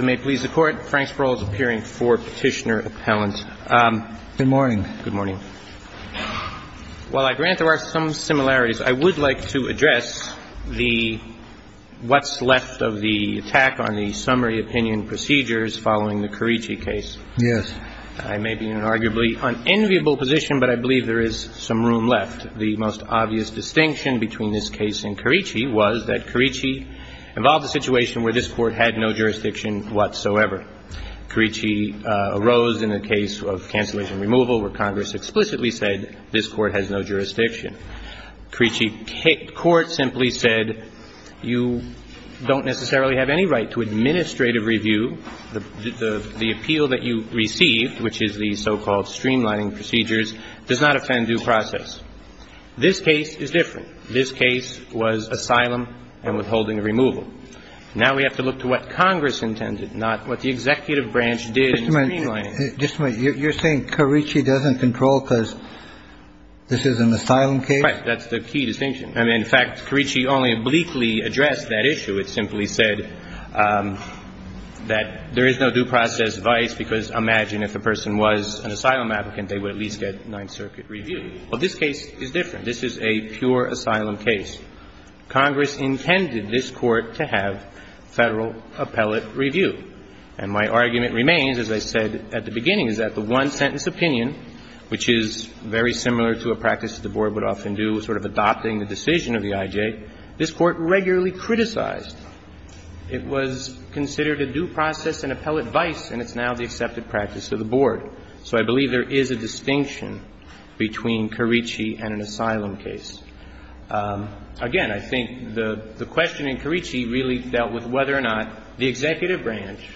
may please the court. Frank Sproul is appearing for petitioner appellant. Good morning. Good morning. While I grant there are some similarities, I would like to address the what's left of the attack on the summary opinion procedures following the Carici case. Yes. I may be in an arguably unenviable position, but I believe there is some room left. The most obvious distinction between this case and Carici was that Carici involved a situation where this Carici arose in a case of cancellation removal where Congress explicitly said this court has no jurisdiction. Carici court simply said you don't necessarily have any right to administrative review. The appeal that you received, which is the so-called streamlining procedures, does not offend due process. This case is different. This case was asylum and withholding removal. Now we have to look to what Congress intended, not what the executive branch did. Just a minute. Just a minute. You're saying Carici doesn't control because this is an asylum case? Right. That's the key distinction. I mean, in fact, Carici only obliquely addressed that issue. It simply said that there is no due process vice, because imagine if the person was an asylum applicant, they would at least get Ninth Circuit review. Well, this case is different. This is a pure asylum case. Congress intended this Court to have Federal appellate review. And my argument remains, as I said at the beginning, is that the one-sentence opinion, which is very similar to a practice that the Board would often do, sort of adopting the decision of the IJ, this Court regularly criticized. It was considered a due process and appellate vice, and it's now the accepted practice of the Board. So I believe there is a distinction between Carici and an asylum case. Again, I think the question in Carici really dealt with whether or not the executive branch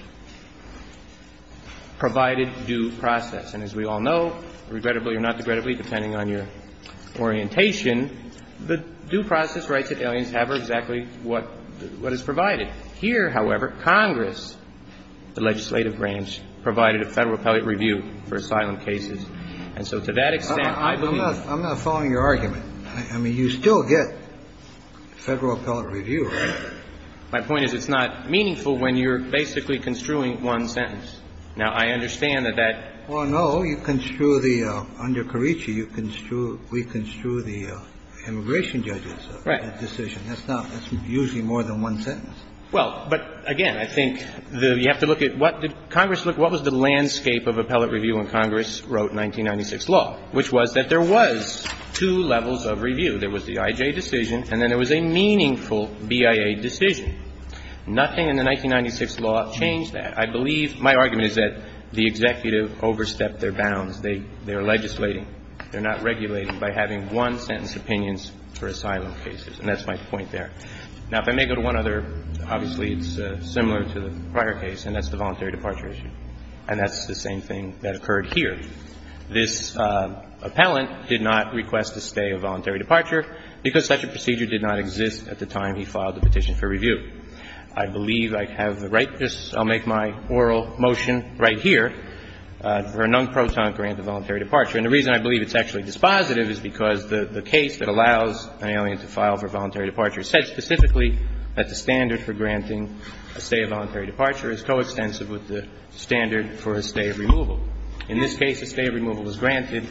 provided due process. And as we all know, regrettably or not regrettably, depending on your orientation, the due process rights that aliens have are exactly what is provided. Here, however, Congress, the legislative branch, provided a Federal appellate review for asylum cases. And so to that extent, I believe that's the case. I'm not following your argument. I mean, you still get Federal appellate review, right? My point is it's not meaningful when you're basically construing one sentence. Now, I understand that that's the case. Well, no. You construe the under Carici, you construe, we construe the immigration judges. Right. That's usually more than one sentence. Well, but again, I think the you have to look at what did Congress look, what was the landscape of appellate review when Congress wrote 1996 law, which was that there was two levels of review. There was the I.J. decision and then there was a meaningful BIA decision. Nothing in the 1996 law changed that. I believe my argument is that the executive overstepped their bounds. They are legislating. They're not regulating by having one-sentence opinions for asylum cases. And that's my point there. Now, if I may go to one other. Obviously, it's similar to the prior case, and that's the voluntary departure issue. And that's the same thing that occurred here. This appellant did not request a stay of voluntary departure because such a procedure did not exist at the time he filed the petition for review. I believe I have the right to make my oral motion right here for a non-proton grant of voluntary departure. And the reason I believe it's actually dispositive is because the case that allows an alien to file for voluntary departure said specifically that the standard for granting a stay of voluntary departure is coextensive with the standard for a stay of removal. In this case, a stay of removal was granted.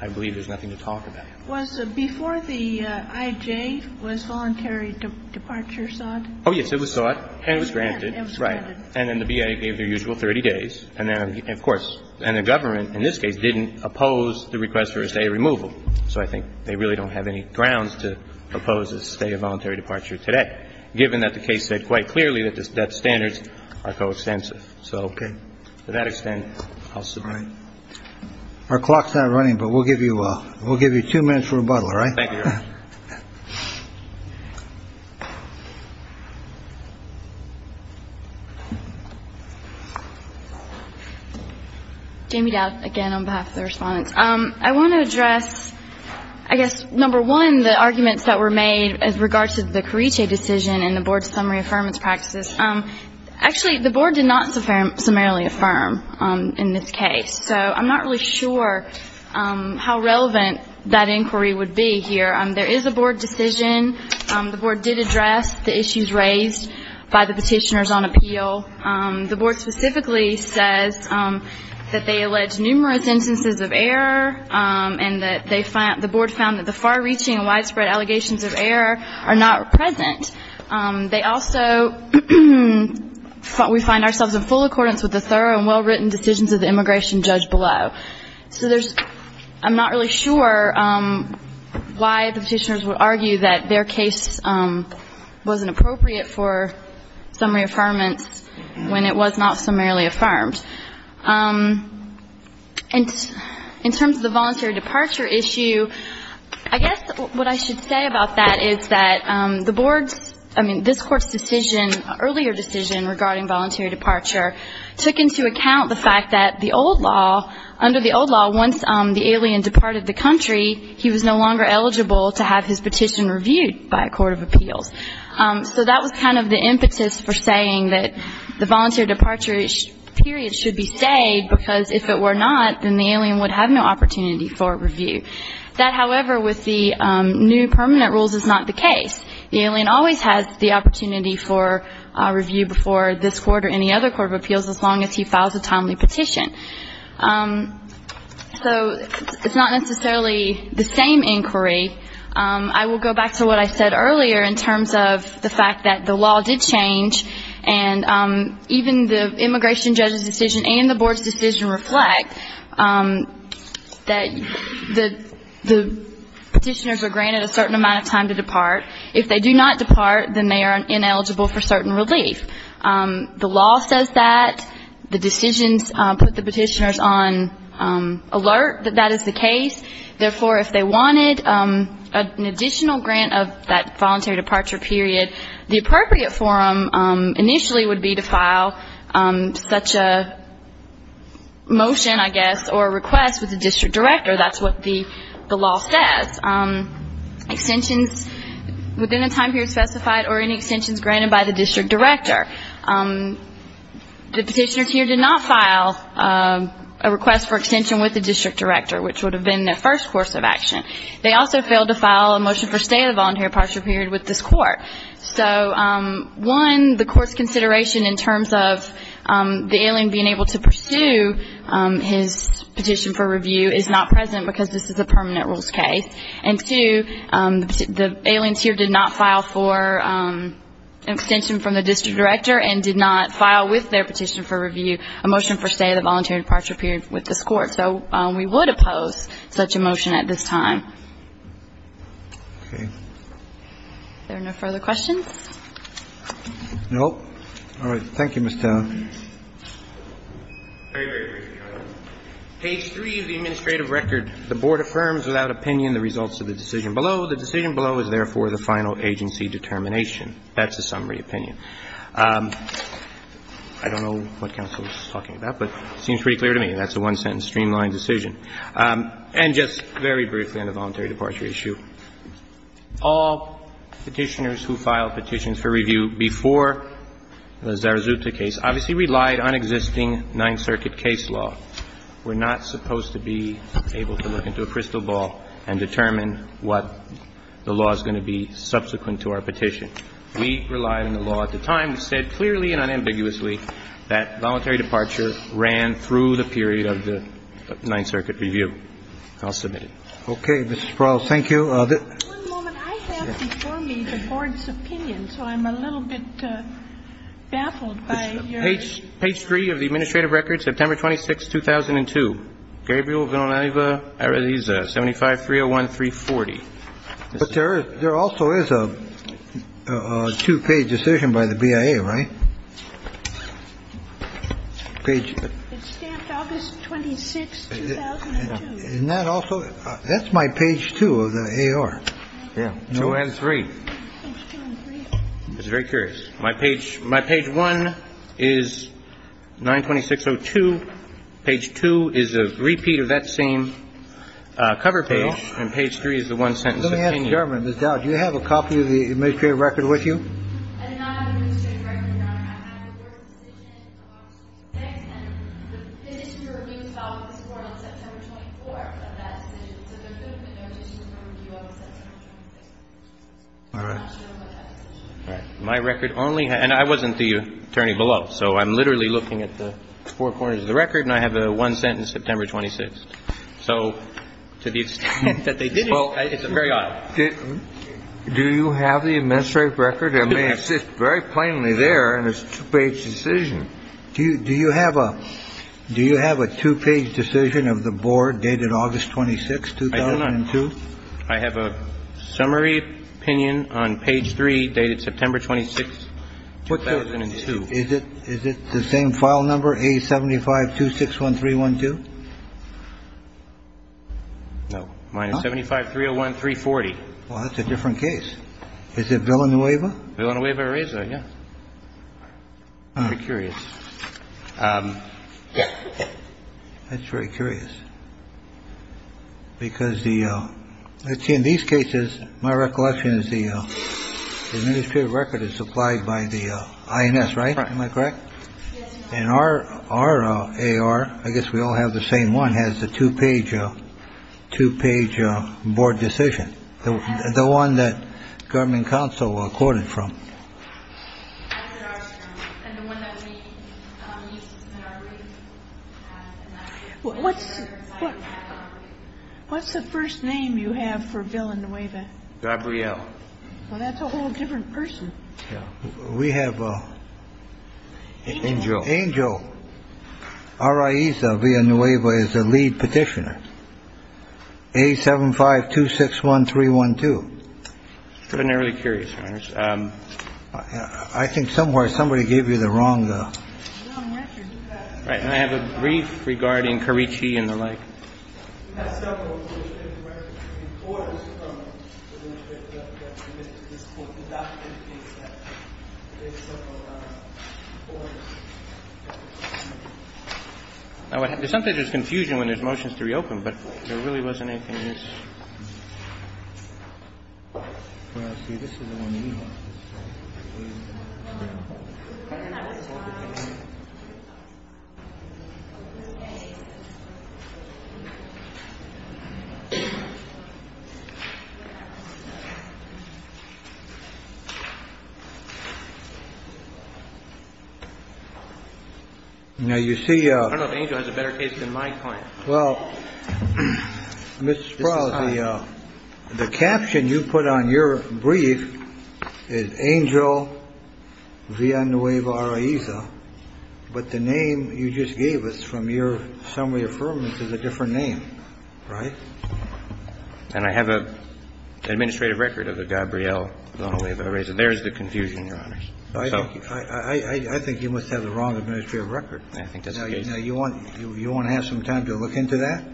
I believe there's nothing to talk about. Was before the I.J. was voluntary departure sought? Oh, yes, it was sought and it was granted. It was granted. And then the BIA gave their usual 30 days. And then, of course, and the government in this case didn't oppose the request for a stay of removal. So I think they really don't have any grounds to propose a stay of voluntary departure today, given that the case said quite clearly that the standards are coextensive. So to that extent, I'll submit. All right. Our clock's not running, but we'll give you two minutes for rebuttal, all right? Thank you, Your Honor. Jamie Dowd, again, on behalf of the respondents. I want to address, I guess, number one, the arguments that were made as regards to the Carice decision and the Board's summary affirmance practices. Actually, the Board did not summarily affirm in this case, so I'm not really sure how relevant that inquiry would be here. There is a Board decision. The Board did address the issues raised by the petitioners on appeal. The Board specifically says that they allege numerous instances of error and that the Board found that the far-reaching and widespread allegations of error are not present. They also, we find ourselves in full accordance with the thorough and well-written decisions of the immigration judge below. So there's, I'm not really sure why the petitioners would argue that their case wasn't appropriate for summary affirmance when it was not summarily affirmed. In terms of the voluntary departure issue, I guess what I should say about that is that the Board's, I mean, this Court's decision, earlier decision regarding voluntary departure, took into account the fact that the old law, under the old law, once the alien departed the country, he was no longer eligible to have his petition reviewed by a court of appeals. So that was kind of the impetus for saying that the voluntary departure period should be stayed, because if it were not, then the alien would have no opportunity for review. That, however, with the new permanent rules is not the case. The alien always has the opportunity for review before this Court or any other court of appeals as long as he files a timely petition. So it's not necessarily the same inquiry. I will go back to what I said earlier in terms of the fact that the law did change, and even the immigration judge's decision and the Board's decision reflect that the petitioners are granted a certain amount of time to depart. If they do not depart, then they are ineligible for certain relief. The law says that. The decisions put the petitioners on alert that that is the case. Therefore, if they wanted an additional grant of that voluntary departure period, the appropriate forum initially would be to file such a motion, I guess, or a request with the district director. That's what the law says. Extensions within a time period specified or any extensions granted by the district director. The petitioners here did not file a request for extension with the district director, which would have been their first course of action. They also failed to file a motion for stay of the voluntary departure period with this Court. So, one, the Court's consideration in terms of the alien being able to pursue his petition for review is not present, because this is a permanent rules case. And, two, the aliens here did not file for extension from the district director and did not file with their petition for review a motion for stay of the voluntary departure period with this Court. So we would oppose such a motion at this time. Okay. Are there no further questions? No. All right. Thank you, Ms. Town. Very, very briefly, Your Honor. Page 3 of the administrative record. The Board affirms without opinion the results of the decision below. The decision below is, therefore, the final agency determination. That's a summary opinion. I don't know what counsel is talking about, but it seems pretty clear to me. That's a one-sentence streamlined decision. And just very briefly on the voluntary departure issue, all petitioners who filed petitions for review before the Zarazuta case obviously relied on existing Ninth Circuit case law. We're not supposed to be able to look into a crystal ball and determine what the law is going to be subsequent to our petition. We relied on the law at the time. We said clearly and unambiguously that voluntary departure ran through the period of the Ninth Circuit review. I'll submit it. Okay. Ms. Sproul, thank you. I have before me the board's opinion, so I'm a little bit baffled by your. Page three of the administrative record. September 26, 2002. Gabriel Villanueva, 75-301-340. But there also is a two-page decision by the BIA, right? It's stamped August 26, 2002. And that also, that's my page two of the AR. Yeah. So we have three. It's very curious. My page one is 926-02. Page two is a repeat of that same cover page. And page three is the one-sentence opinion. Let me ask the government, Ms. Dowd, do you have a copy of the administrative record with you? I do not have an administrative record, Your Honor. I have the board's decision of August 26th. And the history review fell out of this Court on September 24th of that decision. So there could have been no additional review on September 26th. All right. I'm not sure about that decision. All right. My record only has – and I wasn't the attorney below. So I'm literally looking at the four corners of the record, and I have a one-sentence September 26th. So to the extent that they did, well, it's very odd. Do you have the administrative record? It may sit very plainly there in this two-page decision. Do you have a two-page decision of the board dated August 26th, 2002? I do not. I have a summary opinion on page three dated September 26th, 2002. Is it the same file number, A75261312? No. Mine is A75301340. Well, that's a different case. Is it Villanueva? Villanueva-Reyza. Yeah. I'm curious. That's very curious. Because in these cases, my recollection is the administrative record is supplied by the INS, right? Am I correct? Yes. And our AR, I guess we all have the same one, has the two-page board decision, the one that government counsel quoted from. What's the first name you have for Villanueva? Gabrielle. Well, that's a whole different person. We have Angel. Angel Araiza Villanueva is the lead petitioner. A75261312. Extraordinarily curious, Your Honor. I think somewhere somebody gave you the wrong record. Right. And I have a brief regarding Carici and the like. We have several administrative records. The report is from the administrative record that was submitted to this Court. The document indicates that there are several records. Now, sometimes there's confusion when there's motions to reopen, but there really wasn't anything in this. Now, you see. I don't know if Angel has a better case than my client. Well, Mr. Sproul, the caption you put on your brief is Angel Villanueva Araiza. But the name you just gave us from your summary affirmance is a different name. Right. And I have an administrative record of the Gabrielle Villanueva Araiza. There's the confusion, Your Honor. I think you must have the wrong administrative record. I think that's the case. You want to have some time to look into that?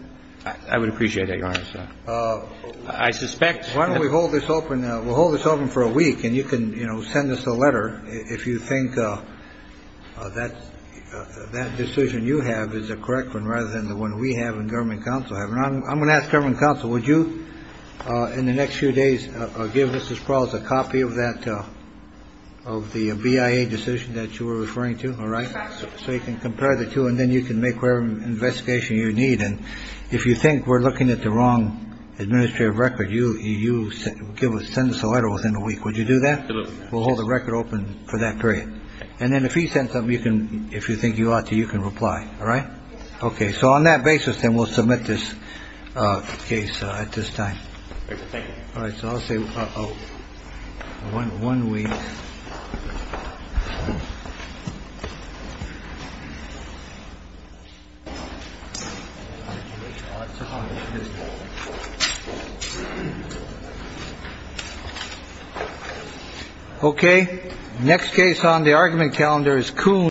I would appreciate that, Your Honor. I suspect. Why don't we hold this open? We'll hold this open for a week, and you can, you know, send us a letter if you think that decision you have is a correct one, rather than the one we have in government counsel. I'm going to ask government counsel, would you, in the next few days, give Mrs. Sproul a copy of that, of the BIA decision that you were referring to? All right. So you can compare the two and then you can make whatever investigation you need. And if you think we're looking at the wrong administrative record, you, you give us, send us a letter within a week. Would you do that? We'll hold the record open for that period. And then if he sends something you can, if you think you ought to, you can reply. All right. OK. So on that basis, then we'll submit this case at this time. All right. So I'll say one one week. OK. Next case on the argument calendar is Kuhn.